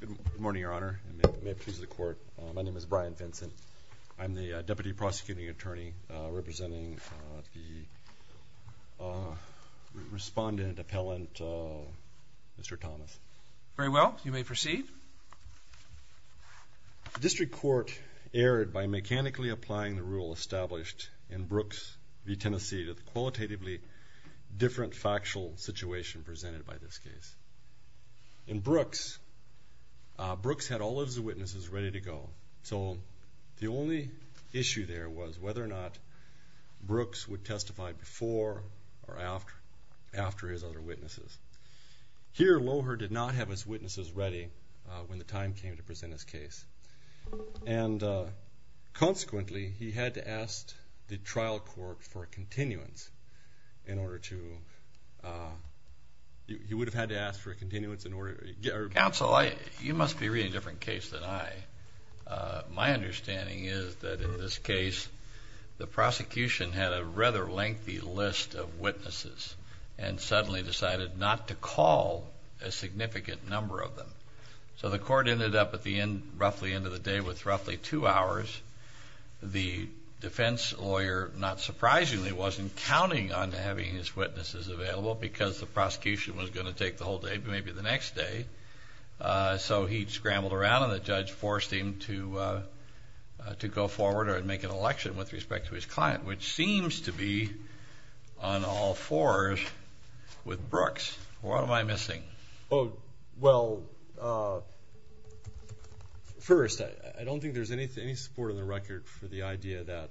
Good morning, Your Honor. My name is Brian Vincent. I'm the Deputy Prosecuting Attorney representing the Respondent Appellant, Mr. Thomas. Very well. You may proceed. The District Court erred by mechanically applying the rule established in Brooks v. Tennessee to the qualitatively different factual situation presented by this case. In Brooks, Brooks had all of his witnesses ready to go. So the only issue there was whether or not Brooks would testify before or after his other witnesses. Here, Loher did not have his witnesses ready when the time came to present his case. And consequently, he had to ask the trial court for a continuance in order to, he would have had to ask for a continuance in order to get... Counsel, you must be reading a different case than I. My understanding is that in this case, the prosecution had a rather lengthy list of witnesses and suddenly decided not to call a significant number of them. So the court ended up at the end, roughly end of the day with roughly two hours. The defense lawyer, not surprisingly, wasn't counting on having his witnesses available because the prosecution was going to take the whole day, maybe the next day. So he scrambled around and the judge forced him to go forward and make an election with respect to his client, which seems to be on all fours with Brooks. What am I missing? Oh, well, first, I don't think there's any support on the record for the idea that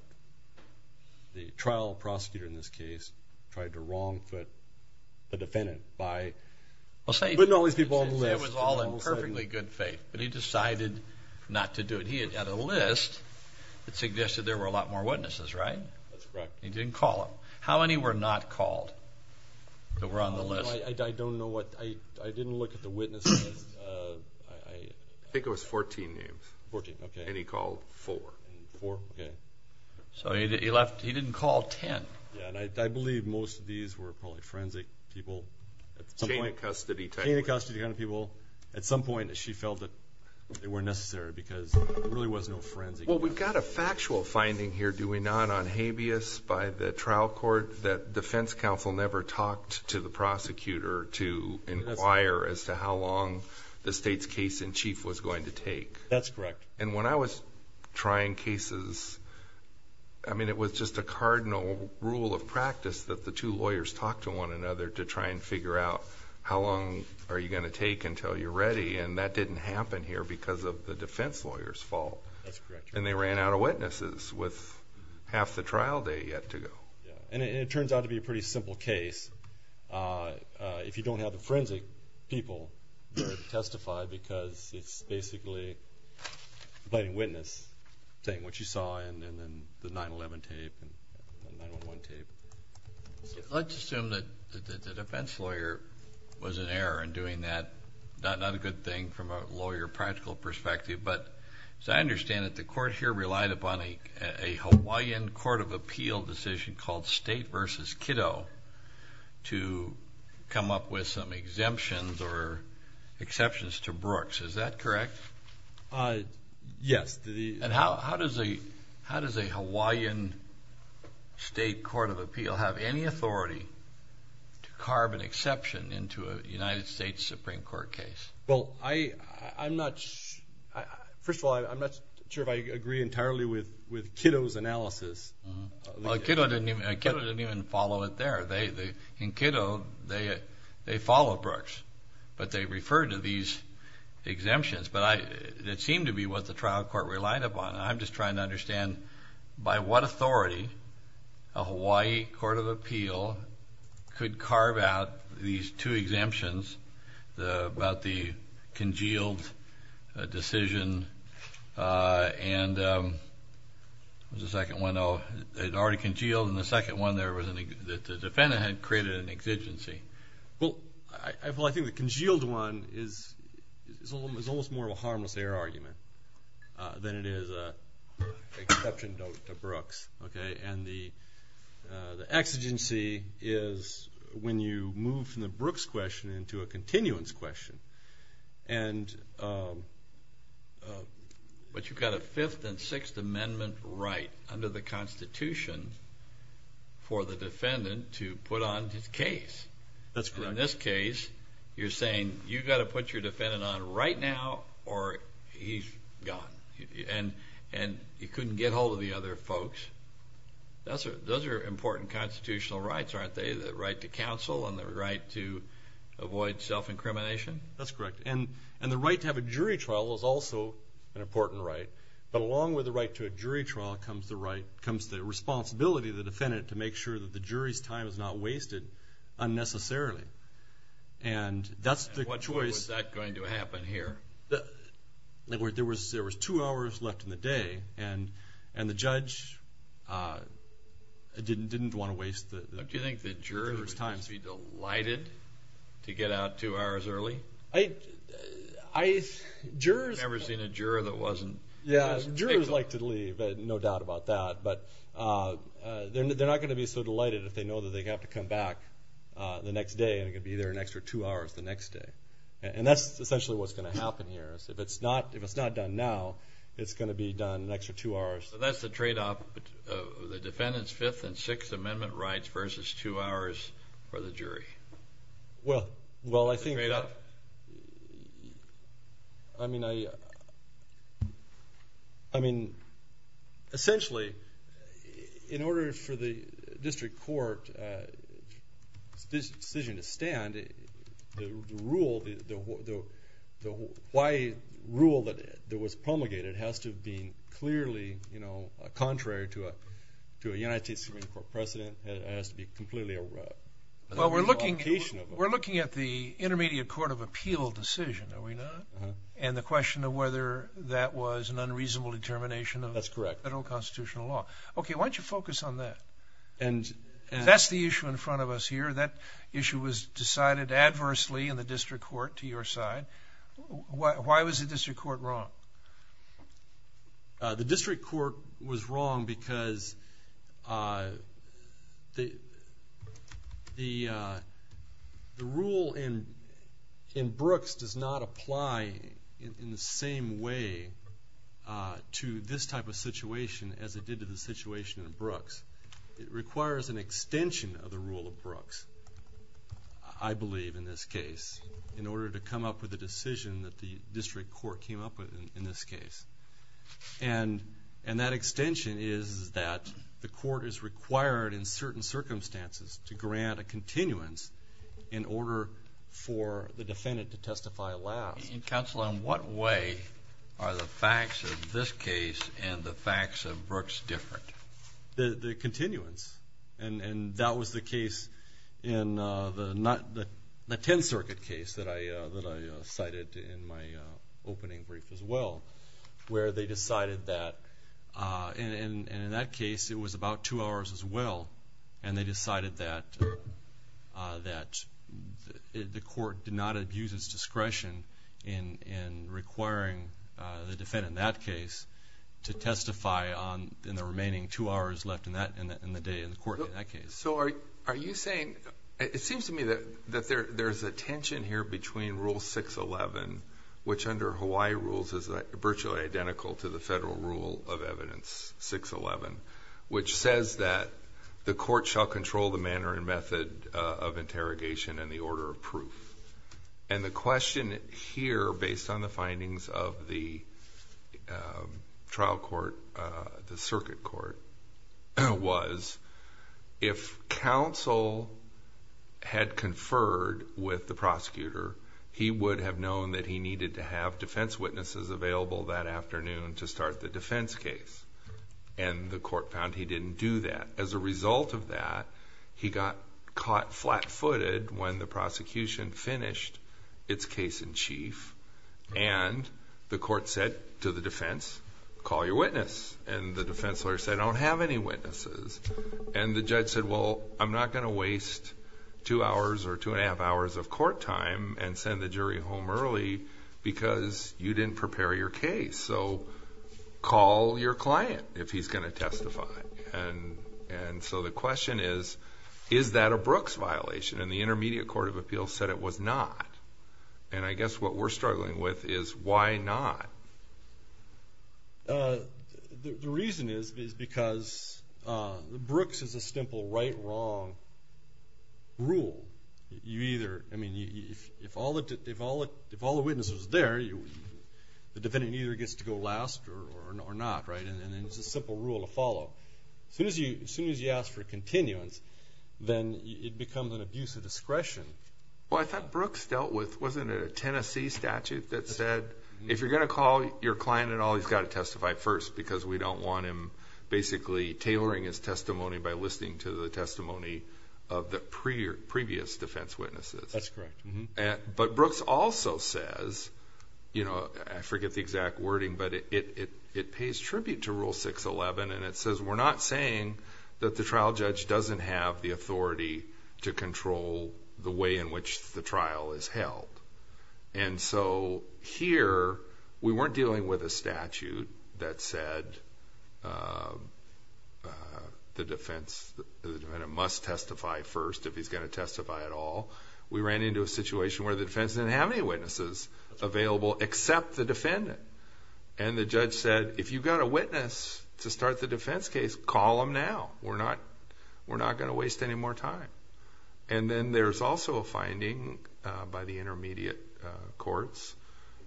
the trial prosecutor in this case tried to wrong-foot the defendant by putting all these people on the list. He was all in perfectly good faith, but he decided not to do it. He had a list that suggested there were a lot more witnesses, right? That's correct. He didn't call them. How many were not called that were on the list? I don't know. I didn't look at the witnesses. I think it was 14 names. 14, okay. And he called four. Four, okay. So he didn't call 10. Yeah, and I believe most of these were probably forensic people. Chain of custody type of people. Chain of custody kind of people. At some point, she felt that they weren't necessary because there really was no forensic. Well, we've got a factual finding here, do we not, on habeas by the trial court that defense counsel never talked to the prosecutor to inquire as to how long the state's case-in-chief was going to take? That's correct. And when I was trying cases, I mean, it was just a cardinal rule of practice that the two lawyers talk to one another to try and figure out how long are you going to take until you're ready, and that didn't happen here because of the defense lawyer's fault. That's correct. And they ran out of witnesses with half the trial day yet to go. And it turns out to be a pretty simple case. If you don't have the forensic people to testify because it's basically a plain witness thing, which you saw in the 9-11 tape. Let's assume that the defense lawyer was in error in doing that. Not a good thing from a lawyer practical perspective, but as I understand it, the court here relied upon a Hawaiian court of appeal decision called state versus kiddo to come up with some exemptions or exceptions to Brooks. Is that correct? Yes. And how does a Hawaiian state court of appeal have any authority to carve an exception into a United States Supreme Court case? Well, first of all, I'm not sure if I agree entirely with kiddo's analysis. Well, kiddo didn't even follow it there. In kiddo, they followed Brooks, but they referred to these exemptions. But it seemed to be what the trial court relied upon. I'm just trying to understand by what authority a Hawaii court of appeal could carve out these two exemptions about the congealed decision. And there's a second one. It already congealed, and the second one there was that the defendant had created an exigency. Well, I think the congealed one is almost more of a harmless error argument than it is an exception to Brooks. And the exigency is when you move from the Brooks question into a continuance question. But you've got a Fifth and Sixth Amendment right under the Constitution for the defendant to put on his case. That's correct. In this case, you're saying you've got to put your defendant on right now or he's gone. And he couldn't get hold of the other folks. Those are important constitutional rights, aren't they? The right to counsel and the right to avoid self-incrimination? That's correct. And the right to have a jury trial is also an important right. But along with the right to a jury trial comes the responsibility of the defendant to make sure that the jury's time is not wasted unnecessarily. And that's the choice. And when was that going to happen here? There was two hours left in the day, and the judge didn't want to waste the jury's time. Would the defendant be delighted to get out two hours early? I've never seen a juror that wasn't. Yeah, jurors like to leave, no doubt about that. But they're not going to be so delighted if they know that they have to come back the next day and they're going to be there an extra two hours the next day. And that's essentially what's going to happen here. If it's not done now, it's going to be done an extra two hours. So that's the tradeoff, the defendant's Fifth and Sixth Amendment rights versus two hours for the jury. Well, I think – Is it a tradeoff? Contrary to a United States Supreme Court precedent, it has to be completely irrelevant. Well, we're looking at the Intermediate Court of Appeal decision, are we not? And the question of whether that was an unreasonable determination of federal constitutional law. That's correct. Okay, why don't you focus on that? That's the issue in front of us here. That issue was decided adversely in the district court to your side. Why was the district court wrong? The district court was wrong because the rule in Brooks does not apply in the same way to this type of situation as it did to the situation in Brooks. It requires an extension of the rule of Brooks, I believe, in this case, in order to come up with a decision that the district court came up with in this case. And that extension is that the court is required in certain circumstances to grant a continuance in order for the defendant to testify last. Counsel, in what way are the facts of this case and the facts of Brooks different? The continuance, and that was the case in the 10th Circuit case that I cited in my opening brief as well, where they decided that in that case it was about two hours as well, and they decided that the court did not abuse its discretion in requiring the defendant in that case to testify in the remaining two hours left in the day in the court in that case. Are you saying, it seems to me that there's a tension here between Rule 611, which under Hawaii rules is virtually identical to the federal rule of evidence, 611, which says that the court shall control the manner and method of interrogation and the order of proof. And the question here, based on the findings of the trial court, the circuit court, was if counsel had conferred with the prosecutor, he would have known that he needed to have defense witnesses available that afternoon to start the defense case. And the court found he didn't do that. As a result of that, he got caught flat-footed when the prosecution finished its case in chief, and the court said to the defense, call your witness. And the defense lawyer said, I don't have any witnesses. And the judge said, well, I'm not going to waste two hours or two and a half hours of court time and send the jury home early because you didn't prepare your case. So call your client if he's going to testify. And so the question is, is that a Brooks violation? And the Intermediate Court of Appeals said it was not. And I guess what we're struggling with is why not? The reason is because Brooks is a simple right-wrong rule. I mean, if all the witnesses are there, the defendant either gets to go last or not, right? And it's a simple rule to follow. As soon as you ask for continuance, then it becomes an abuse of discretion. Well, I thought Brooks dealt with, wasn't it a Tennessee statute that said, if you're going to call your client and all, he's got to testify first because we don't want him basically tailoring his testimony by listening to the testimony of the previous defense witnesses. That's correct. But Brooks also says, I forget the exact wording, but it pays tribute to Rule 611, and it says we're not saying that the trial judge doesn't have the authority to control the way in which the trial is held. And so here, we weren't dealing with a statute that said the defendant must testify first if he's going to testify at all. We ran into a situation where the defense didn't have any witnesses available except the defendant. And the judge said, if you've got a witness to start the defense case, call him now. We're not going to waste any more time. And then there's also a finding by the intermediate courts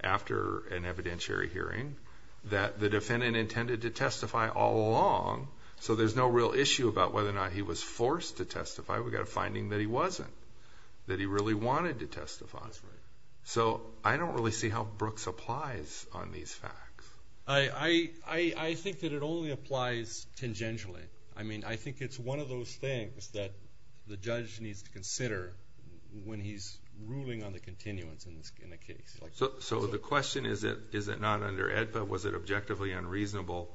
after an evidentiary hearing that the defendant intended to testify all along, so there's no real issue about whether or not he was forced to testify. We've got a finding that he wasn't, that he really wanted to testify. So I don't really see how Brooks applies on these facts. I think that it only applies tangentially. I mean, I think it's one of those things that the judge needs to consider when he's ruling on the continuance in the case. So the question is, is it not under AEDPA? Was it objectively unreasonable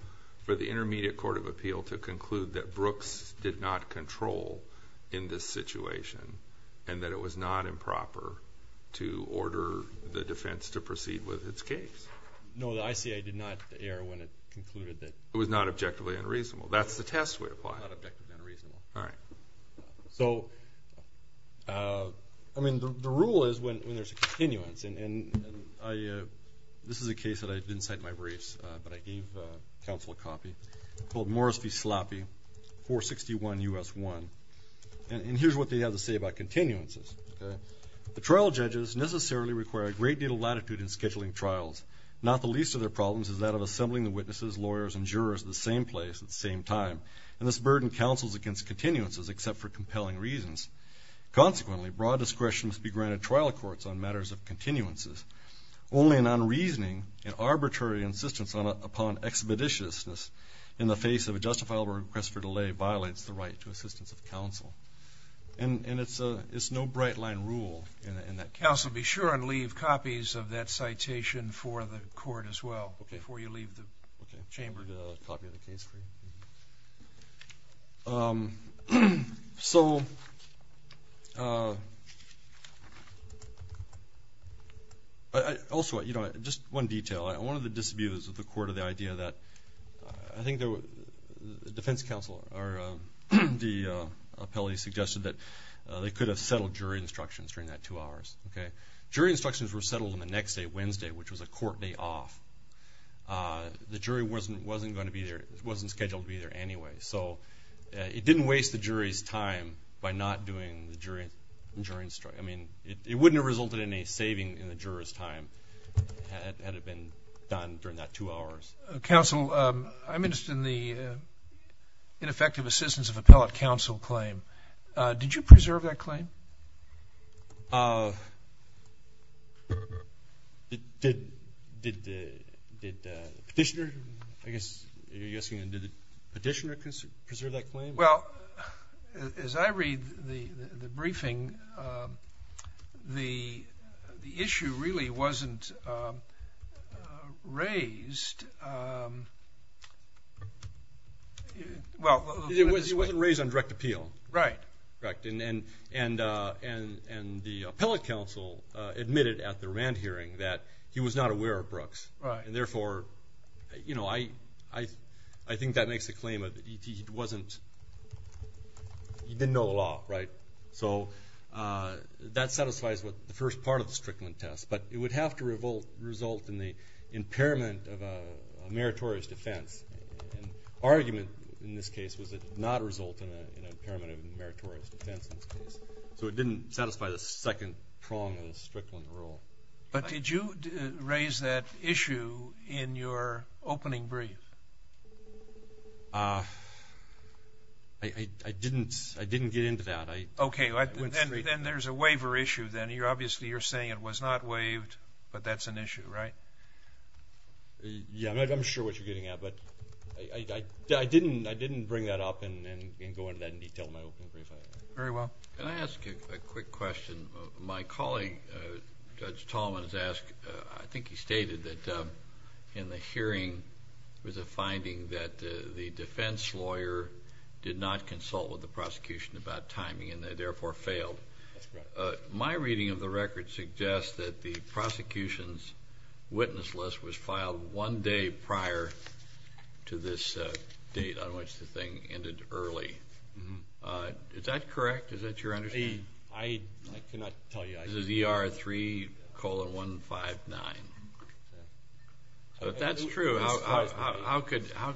for the intermediate court of appeal to conclude that Brooks did not control in this situation and that it was not improper to order the defense to proceed with its case? No, the ICA did not err when it concluded that... It was not objectively unreasonable. That's the test we apply. Not objectively unreasonable. All right. So, I mean, the rule is when there's a continuance, and this is a case that I didn't cite in my briefs, but I gave counsel a copy called Morris v. Sloppy, 461 U.S. 1. And here's what they have to say about continuances. The trial judges necessarily require a great deal of latitude in scheduling trials. Not the least of their problems is that of assembling the witnesses, lawyers, and jurors at the same place at the same time, and this burden counsels against continuances except for compelling reasons. Consequently, broad discretion must be granted trial courts on matters of continuances. Only an unreasoning and arbitrary insistence upon expeditiousness in the face of a justifiable request for delay violates the right to assistance of counsel. Okay, before you leave the chamber, I have a copy of the case for you. So... Also, you know, just one detail. One of the disabuses of the court of the idea that I think the defense counsel or the appellee suggested that they could have settled jury instructions during that two hours. Okay? Jury instructions were settled on the next day, Wednesday, which was a court day off. The jury wasn't going to be there. It wasn't scheduled to be there anyway. So it didn't waste the jury's time by not doing the jury instruction. I mean, it wouldn't have resulted in a saving in the juror's time had it been done during that two hours. Counsel, I'm interested in the ineffective assistance of appellate counsel claim. Did you preserve that claim? Did the petitioner, I guess you're asking, did the petitioner preserve that claim? Well, as I read the briefing, the issue really wasn't raised. Well, let's put it this way. It wasn't raised on direct appeal. Right. Correct. And the appellate counsel admitted at the Rand hearing that he was not aware of Brooks. Right. And, therefore, you know, I think that makes the claim that he wasn't, he didn't know the law, right? So that satisfies the first part of the Strickland test. But it would have to result in the impairment of a meritorious defense. And the argument in this case was it did not result in an impairment of a meritorious defense in this case. So it didn't satisfy the second prong of the Strickland rule. But did you raise that issue in your opening brief? I didn't get into that. Okay. Then there's a waiver issue then. I mean, obviously you're saying it was not waived, but that's an issue, right? Yeah. I'm not sure what you're getting at. But I didn't bring that up and go into that in detail in my opening brief. Very well. Can I ask a quick question? My colleague, Judge Tallman, has asked, I think he stated that in the hearing, there was a finding that the defense lawyer did not consult with the prosecution about timing and, therefore, failed. That's correct. My reading of the record suggests that the prosecution's witness list was filed one day prior to this date on which the thing ended early. Is that correct? Is that your understanding? I cannot tell you. This is ER 3 colon 159. If that's true, how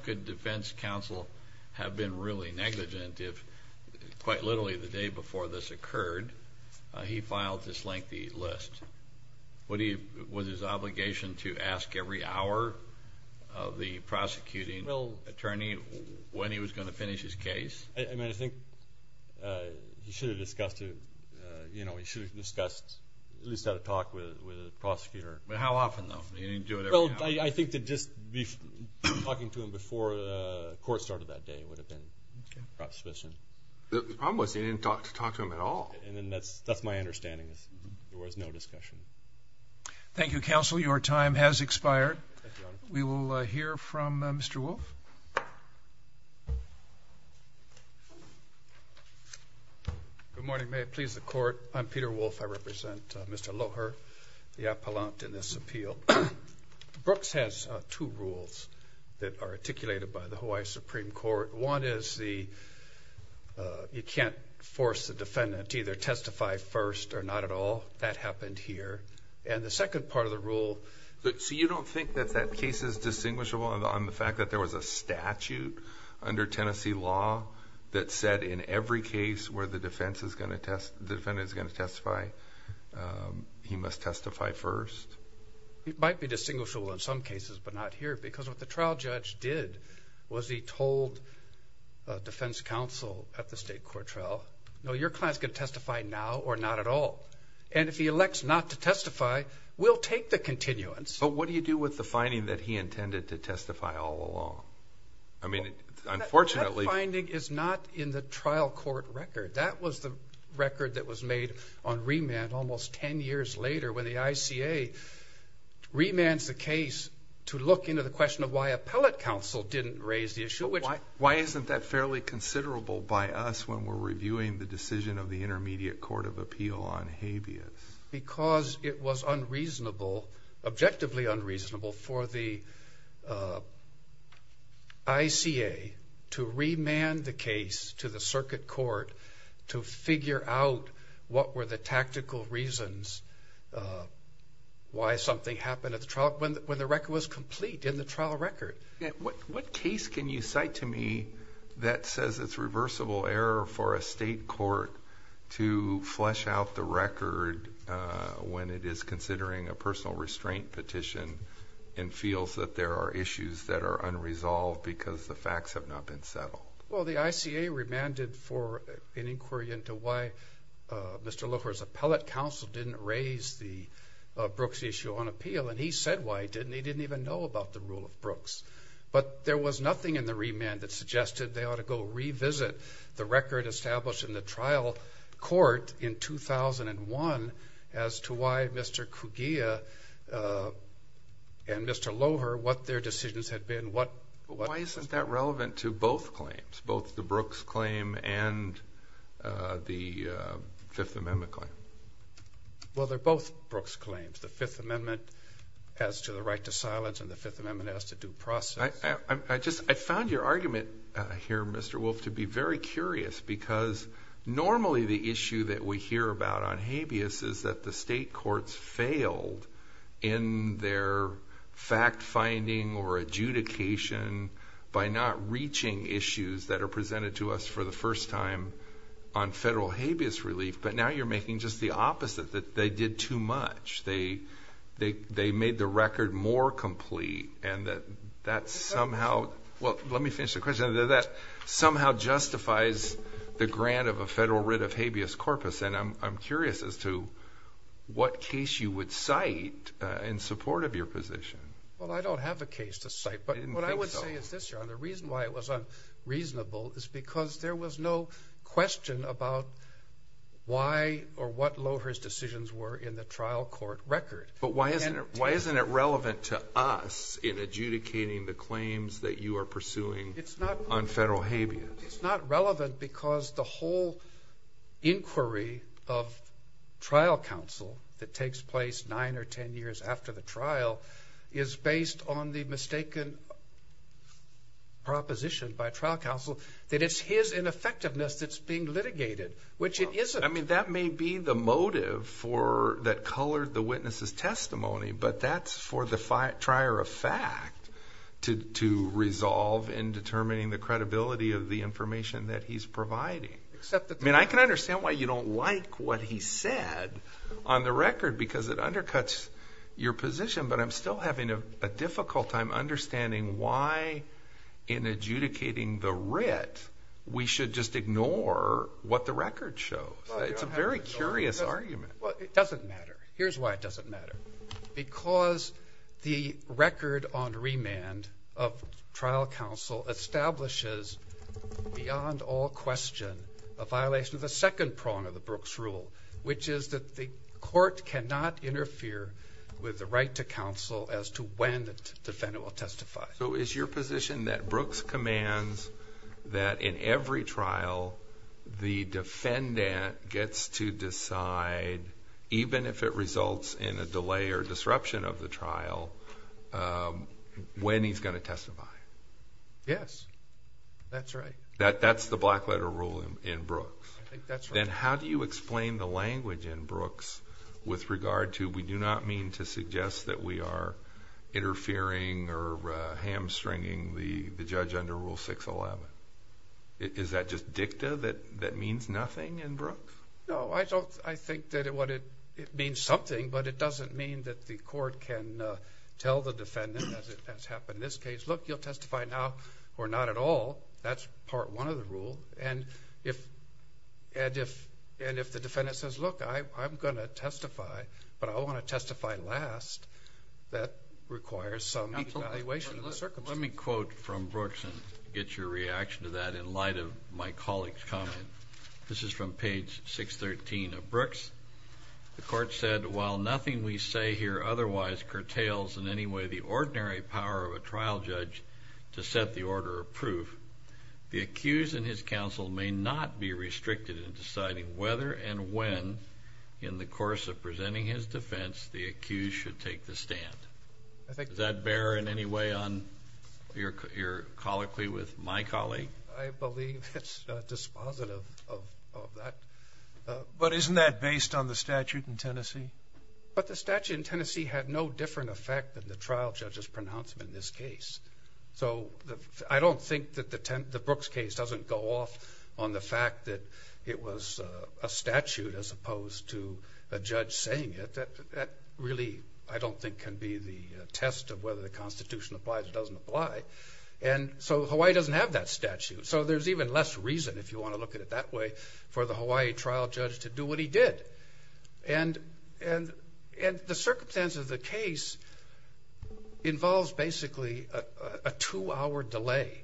could defense counsel have been really negligent if, quite literally, the day before this occurred, he filed this lengthy list? Was his obligation to ask every hour of the prosecuting attorney when he was going to finish his case? I think he should have discussed, at least had a talk with the prosecutor. How often, though? He didn't do it every hour. I think that just talking to him before the court started that day would have been sufficient. The problem was he didn't talk to him at all. That's my understanding. There was no discussion. Thank you, counsel. Your time has expired. We will hear from Mr. Wolfe. Good morning. May it please the court. I'm Peter Wolfe. I represent Mr. Loher, the appellant in this appeal. Brooks has two rules that are articulated by the Hawaii Supreme Court. One is you can't force the defendant to either testify first or not at all. That happened here. And the second part of the rule – So you don't think that that case is distinguishable on the fact that there was a statute under Tennessee law that said in every case where the defendant is going to testify, he must testify first? It might be distinguishable in some cases but not here because what the trial judge did was he told defense counsel at the state court trial, no, your client is going to testify now or not at all. And if he elects not to testify, we'll take the continuance. But what do you do with the finding that he intended to testify all along? I mean, unfortunately – That finding is not in the trial court record. That was the record that was made on remand almost 10 years later when the ICA remands the case to look into the question of why appellate counsel didn't raise the issue. Why isn't that fairly considerable by us when we're reviewing the decision of the Intermediate Court of Appeal on habeas? Because it was unreasonable, objectively unreasonable for the ICA to remand the case to the circuit court to figure out what were the tactical reasons why something happened at the trial when the record was complete in the trial record. What case can you cite to me that says it's reversible error for a state court to flesh out the record when it is considering a personal restraint petition and feels that there are issues that are unresolved because the facts have not been settled? Well, the ICA remanded for an inquiry into why Mr. Loher's appellate counsel didn't raise the Brooks issue on appeal. And he said why he didn't. He didn't even know about the rule of Brooks. But there was nothing in the remand that suggested they ought to go revisit the record established in the trial court in 2001 as to why Mr. Cugia and Mr. Loher, what their decisions had been, what – Why isn't that relevant to both claims, both the Brooks claim and the Fifth Amendment claim? Well, they're both Brooks claims, the Fifth Amendment as to the right to silence and the Fifth Amendment as to due process. I just – I found your argument here, Mr. Wolf, to be very curious because normally the issue that we hear about on habeas is that the state courts failed in their fact-finding or adjudication by not reaching issues that are presented to us for the first time on federal habeas relief. But now you're making just the opposite, that they did too much. They made the record more complete and that that somehow – well, let me finish the question. That somehow justifies the grant of a federal writ of habeas corpus. And I'm curious as to what case you would cite in support of your position. Well, I don't have a case to cite. I didn't think so. The reason why it was unreasonable is because there was no question about why or what Loher's decisions were in the trial court record. But why isn't it relevant to us in adjudicating the claims that you are pursuing on federal habeas? It's not relevant because the whole inquiry of trial counsel that takes place nine or ten years after the trial is based on the mistaken proposition by trial counsel that it's his ineffectiveness that's being litigated, which it isn't. I mean, that may be the motive that colored the witness's testimony, but that's for the trier of fact to resolve in determining the credibility of the information that he's providing. I mean, I can understand why you don't like what he said on the record because it undercuts your position. But I'm still having a difficult time understanding why in adjudicating the writ we should just ignore what the record shows. It's a very curious argument. Well, it doesn't matter. Here's why it doesn't matter. Because the record on remand of trial counsel establishes beyond all question a violation of the second prong of the Brooks rule, which is that the court cannot interfere with the right to counsel as to when the defendant will testify. So is your position that Brooks commands that in every trial the defendant gets to decide, even if it results in a delay or disruption of the trial, when he's going to testify? Yes. That's right. That's the black letter rule in Brooks. I think that's right. Then how do you explain the language in Brooks with regard to we do not mean to suggest that we are interfering or hamstringing the judge under Rule 611? Is that just dicta that means nothing in Brooks? No, I think that it means something, but it doesn't mean that the court can tell the defendant, as has happened in this case, look, you'll testify now or not at all. And if the defendant says, look, I'm going to testify, but I want to testify last, that requires some evaluation of the circumstances. Let me quote from Brooks and get your reaction to that in light of my colleague's comment. This is from page 613 of Brooks. The court said, while nothing we say here otherwise curtails in any way the ordinary power of a trial judge to set the order of proof, the accused and his counsel may not be restricted in deciding whether and when, in the course of presenting his defense, the accused should take the stand. Does that bear in any way on your colloquy with my colleague? I believe it's dispositive of that. But isn't that based on the statute in Tennessee? But the statute in Tennessee had no different effect than the trial judge's pronouncement in this case. So I don't think that the Brooks case doesn't go off on the fact that it was a statute as opposed to a judge saying it. That really, I don't think, can be the test of whether the Constitution applies or doesn't apply. And so Hawaii doesn't have that statute. So there's even less reason, if you want to look at it that way, for the Hawaii trial judge to do what he did. And the circumstance of the case involves basically a two-hour delay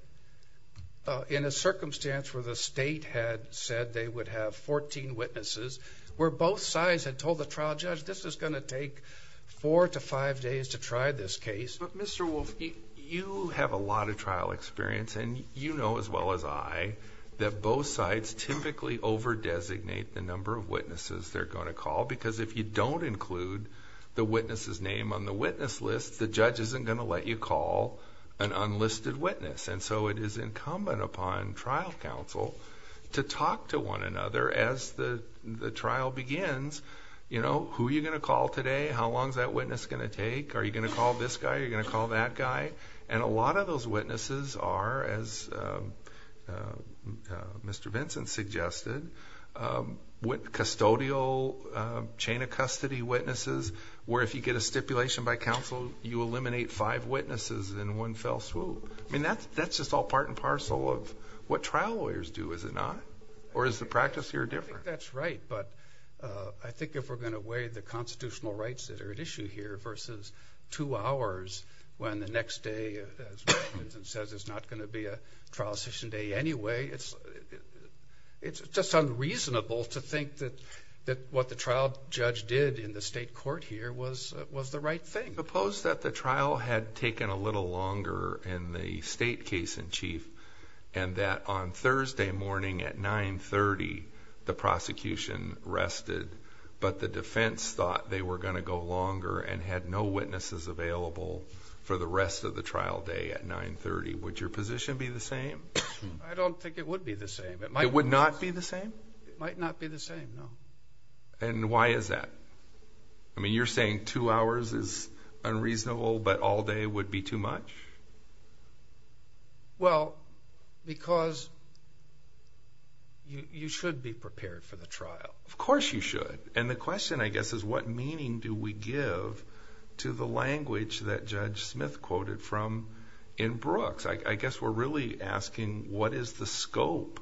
in a circumstance where the state had said they would have 14 witnesses, where both sides had told the trial judge this is going to take four to five days to try this case. But Mr. Wolf, you have a lot of trial experience, and you know as well as I that both sides typically over-designate the number of witnesses they're going to call. Because if you don't include the witness's name on the witness list, the judge isn't going to let you call an unlisted witness. And so it is incumbent upon trial counsel to talk to one another as the trial begins. Who are you going to call today? How long is that witness going to take? Are you going to call this guy? Are you going to call that guy? And a lot of those witnesses are, as Mr. Vincent suggested, custodial chain of custody witnesses, where if you get a stipulation by counsel, you eliminate five witnesses in one fell swoop. I mean, that's just all part and parcel of what trial lawyers do, is it not? Or is the practice here different? That's right, but I think if we're going to weigh the constitutional rights that are at issue here versus two hours when the next day, as Mr. Vincent says, is not going to be a trial session day anyway, it's just unreasonable to think that what the trial judge did in the state court here was the right thing. Suppose that the trial had taken a little longer in the state case in chief and that on Thursday morning at 9.30 the prosecution rested, but the defense thought they were going to go longer and had no witnesses available for the rest of the trial day at 9.30. Would your position be the same? I don't think it would be the same. It would not be the same? It might not be the same, no. And why is that? I mean, you're saying two hours is unreasonable, but all day would be too much? Well, because you should be prepared for the trial. Of course you should. And the question, I guess, is what meaning do we give to the language that Judge Smith quoted from in Brooks? I guess we're really asking what is the scope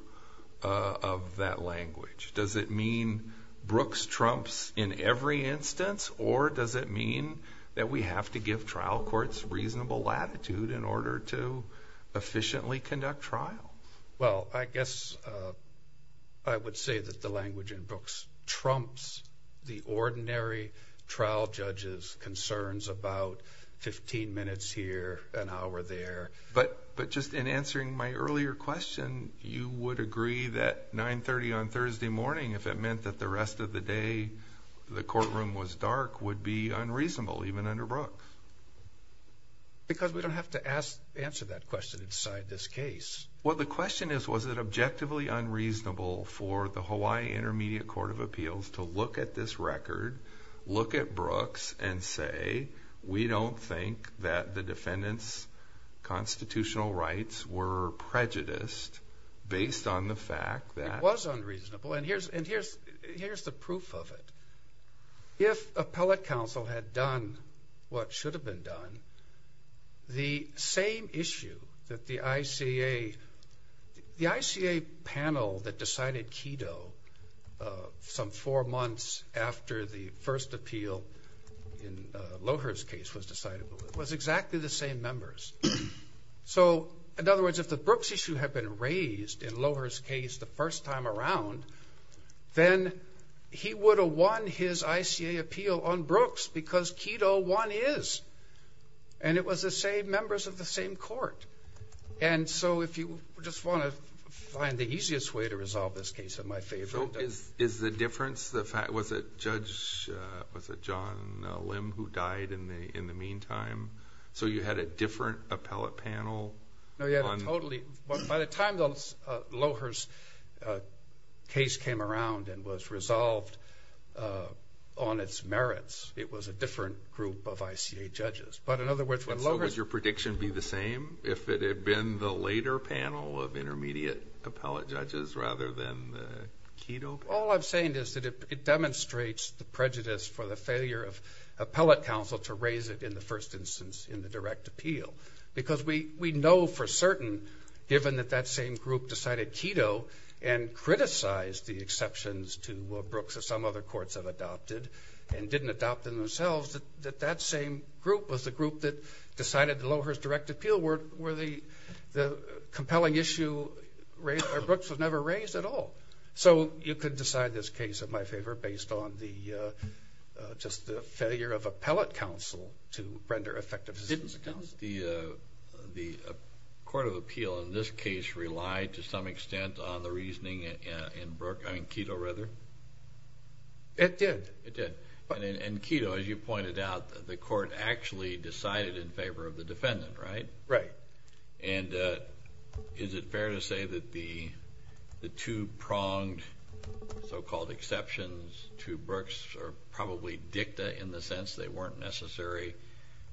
of that language? Does it mean Brooks trumps in every instance, or does it mean that we have to give trial courts reasonable latitude in order to efficiently conduct trial? Well, I guess I would say that the language in Brooks trumps the ordinary trial judge's concerns about 15 minutes here, an hour there. But just in answering my earlier question, you would agree that 930 on Thursday morning, if it meant that the rest of the day the courtroom was dark, would be unreasonable, even under Brooks? Because we don't have to answer that question inside this case. Well, the question is, was it objectively unreasonable for the Hawaii Intermediate Court of Appeals to look at this record, look at Brooks, and say, we don't think that the defendant's constitutional rights were prejudiced based on the fact that... It was unreasonable, and here's the proof of it. If appellate counsel had done what should have been done, the same issue that the ICA... The ICA panel that decided KEDO some four months after the first appeal in Lohr's case was decided was exactly the same members. So, in other words, if the Brooks issue had been raised in Lohr's case the first time around, then he would have won his ICA appeal on Brooks because KEDO won his. And it was the same members of the same court. And so if you just want to find the easiest way to resolve this case in my favor... Was it Judge John Lim who died in the meantime? So you had a different appellate panel? By the time Lohr's case came around and was resolved on its merits, it was a different group of ICA judges. So would your prediction be the same if it had been the later panel of intermediate appellate judges rather than the KEDO panel? All I'm saying is that it demonstrates the prejudice for the failure of appellate counsel to raise it in the first instance in the direct appeal. Because we know for certain, given that that same group decided KEDO and criticized the exceptions to Brooks that some other courts have adopted and didn't adopt them themselves, that that same group was the group that decided Lohr's direct appeal were the compelling issue... Brooks was never raised at all. So you could decide this case in my favor based on just the failure of appellate counsel to render effective assistance to counsel. Didn't the court of appeal in this case rely to some extent on the reasoning in KEDO? It did. It did. And KEDO, as you pointed out, the court actually decided in favor of the defendant, right? Right. And is it fair to say that the two pronged so-called exceptions to Brooks are probably dicta in the sense they weren't necessary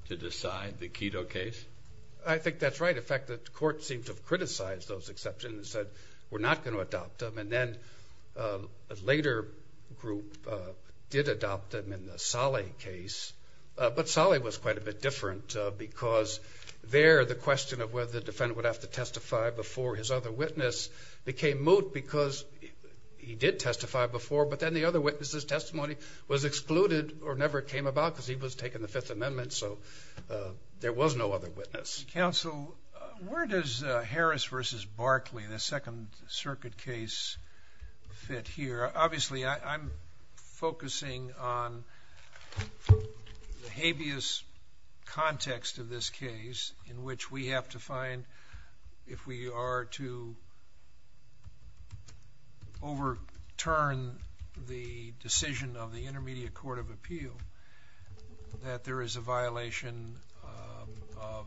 to decide the KEDO case? I think that's right. In fact, the court seemed to have criticized those exceptions and said, we're not going to adopt them. And then a later group did adopt them in the Saleh case. But Saleh was quite a bit different because there the question of whether the defendant would have to testify before his other witness became moot because he did testify before, but then the other witness's testimony was excluded or never came about because he was taking the Fifth Amendment. So there was no other witness. Counsel, where does Harris versus Barkley, the Second Circuit case, fit here? Obviously, I'm focusing on the habeas context of this case in which we have to find if we are to overturn the decision of the Intermediate Court of Appeal that there is a violation of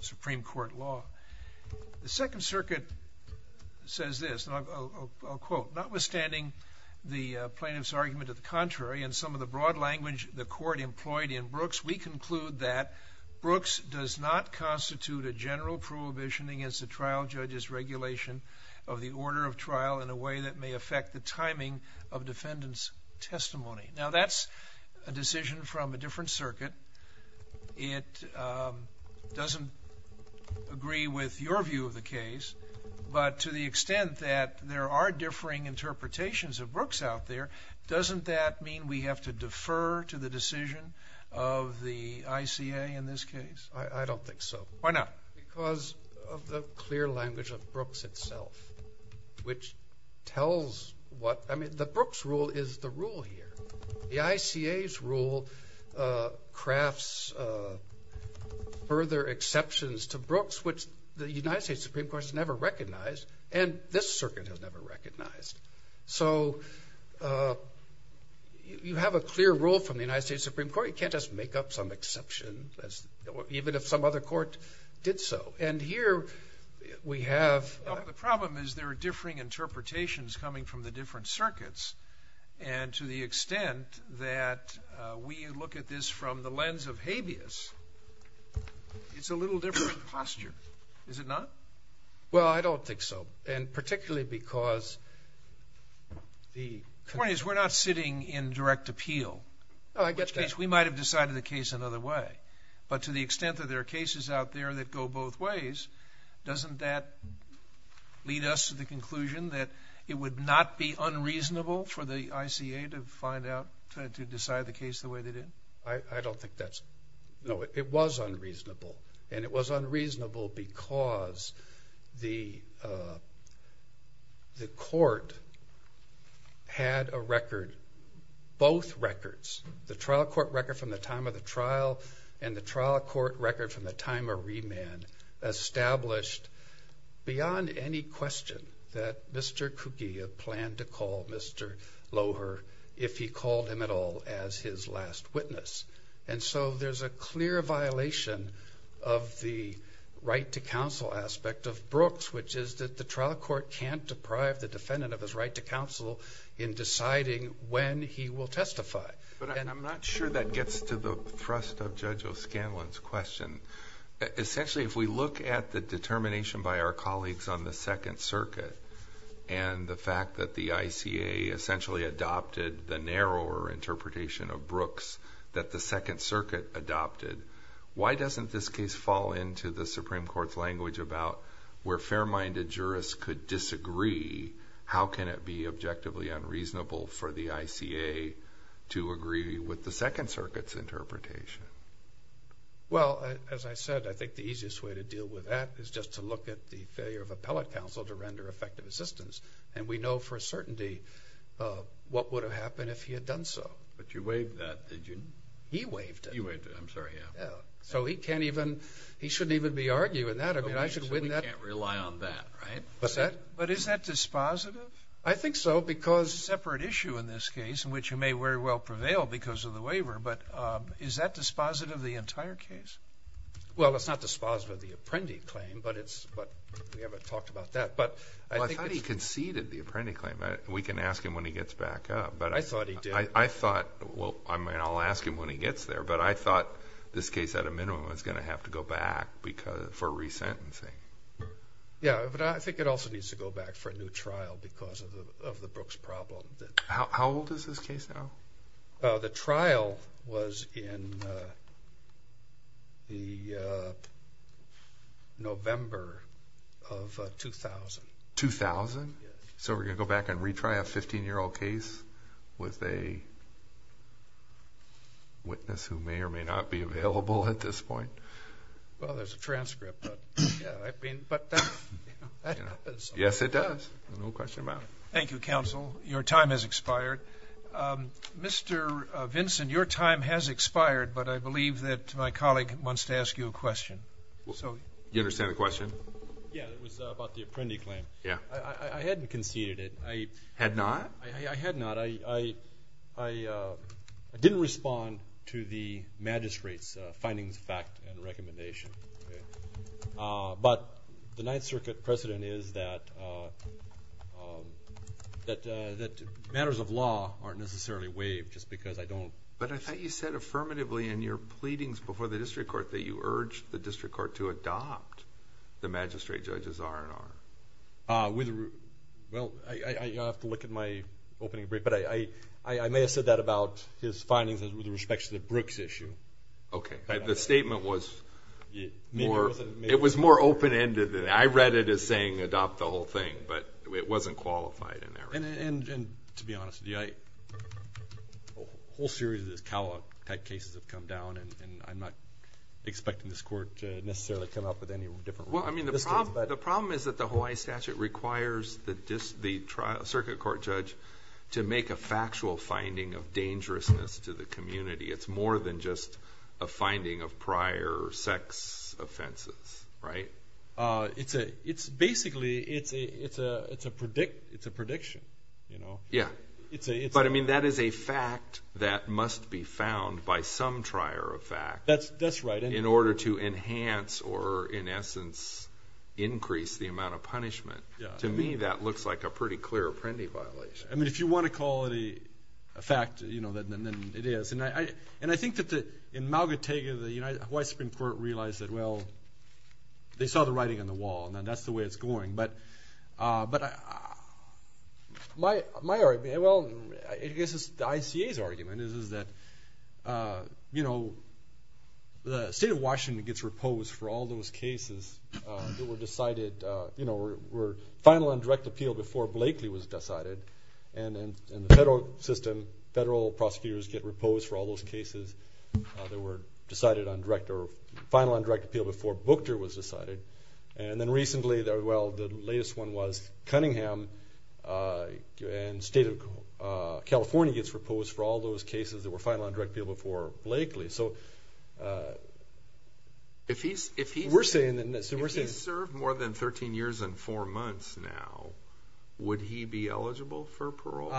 Supreme Court law. The Second Circuit says this, and I'll quote, notwithstanding the plaintiff's argument of the contrary and some of the broad language the court employed in Brooks, we conclude that Brooks does not constitute a general prohibition against the trial judge's regulation of the order of trial in a way that may affect the timing of defendant's testimony. Now, that's a decision from a different circuit. It doesn't agree with your view of the case, but to the extent that there are differing interpretations of Brooks out there, doesn't that mean we have to defer to the decision of the ICA in this case? I don't think so. Why not? Because of the clear language of Brooks itself, which tells what – I mean, the Brooks rule is the rule here. The ICA's rule crafts further exceptions to Brooks, which the United States Supreme Court has never recognized, and this circuit has never recognized. So you have a clear rule from the United States Supreme Court. You can't just make up some exception, even if some other court did so. And here we have – Well, the problem is there are differing interpretations coming from the different circuits, and to the extent that we look at this from the lens of habeas, it's a little different posture, is it not? Well, I don't think so, and particularly because the – The point is we're not sitting in direct appeal. No, I get that. In which case, we might have decided the case another way. But to the extent that there are cases out there that go both ways, doesn't that lead us to the conclusion that it would not be unreasonable for the ICA to find out – to decide the case the way they did? I don't think that's – no, it was unreasonable. And it was unreasonable because the court had a record – both records, the trial court record from the time of the trial and the trial court record from the time of remand, established beyond any question that Mr. Kukia planned to call Mr. Loher, if he called him at all, as his last witness. And so there's a clear violation of the right to counsel aspect of Brooks, which is that the trial court can't deprive the defendant of his right to counsel in deciding when he will testify. But I'm not sure that gets to the thrust of Judge O'Scanlan's question. Essentially, if we look at the determination by our colleagues on the Second Circuit and the fact that the ICA essentially adopted the narrower interpretation of Brooks that the Second Circuit adopted, why doesn't this case fall into the Supreme Court's language about where fair-minded jurists could disagree, how can it be objectively unreasonable for the ICA to agree with the Second Circuit's interpretation? Well, as I said, I think the easiest way to deal with that is just to look at the failure of appellate counsel to render effective assistance. And we know for a certainty what would have happened if he had done so. But you waived that, didn't you? He waived it. You waived it. I'm sorry. Yeah. So he can't even, he shouldn't even be arguing that. I mean, I should win that. So we can't rely on that, right? What's that? But is that dispositive? I think so, because it's a separate issue in this case in which he may very well prevail because of the waiver. But is that dispositive of the entire case? Well, it's not dispositive of the apprendi claim, but it's, but we haven't talked about that. But I think it's... Well, I thought he conceded the apprendi claim. We can ask him when he gets back up. I thought he did. I thought, well, I mean, I'll ask him when he gets there, but I thought this case at a minimum was going to have to go back for resentencing. Yeah, but I think it also needs to go back for a new trial because of the Brooks problem. How old is this case now? The trial was in the November of 2000. 2000? Yeah. So we're going to go back and retry a 15-year-old case with a witness who may or may not be available at this point? Well, there's a transcript, but, you know, that happens. Yes, it does. No question about it. Thank you, counsel. Your time has expired. Mr. Vinson, your time has expired, but I believe that my colleague wants to ask you a question. You understand the question? Yeah, it was about the apprendi claim. Yeah. I hadn't conceded it. Had not? I had not. I didn't respond to the magistrate's findings, fact, and recommendation, but the Ninth Circuit precedent is that matters of law aren't necessarily waived just because I don't... But I thought you said affirmatively in your pleadings before the district court that you urged the district court to adopt the magistrate judge's R&R. Well, I'll have to look at my opening brief, but I may have said that about his findings with respect to the Brooks issue. Okay. The statement was more open-ended than that. I read it as saying adopt the whole thing, but it wasn't qualified in that regard. And to be honest with you, a whole series of these CAWA-type cases have come down, and I'm not expecting this court to necessarily come up with any different... Well, I mean, the problem is that the Hawaii statute requires the circuit court judge to make a factual finding of dangerousness to the community. It's more than just a finding of prior sex offenses, right? Basically, it's a prediction. Yeah. But, I mean, that is a fact that must be found by some trier of fact... That's right.... in order to enhance or, in essence, increase the amount of punishment. To me, that looks like a pretty clear Apprendi violation. I mean, if you want to call it a fact, then it is. And I think that in Maugatega, the Hawaii Supreme Court realized that, well, they saw the writing on the wall, and that's the way it's going. But my argument, well, I guess the ICA's argument is that, you know, the state of Washington gets reposed for all those cases that were decided, you know, were final on direct appeal before Blakely was decided, and the federal system, federal prosecutors get reposed for all those cases that were decided on direct or final on direct appeal before Booker was decided. And then recently, well, the latest one was Cunningham, and the state of California gets reposed for all those cases that were final on direct appeal before Blakely. So, we're saying... If he's served more than 13 years and four months now, would he be eligible for parole?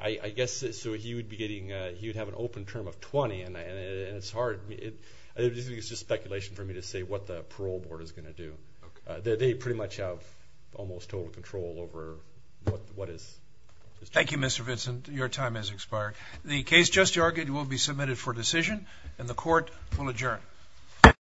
I guess so. He would have an open term of 20, and it's hard. I think it's just speculation for me to say what the parole board is going to do. They pretty much have almost total control over what is... Thank you, Mr. Vincent. Your time has expired. The case just argued will be submitted for decision, and the court will adjourn.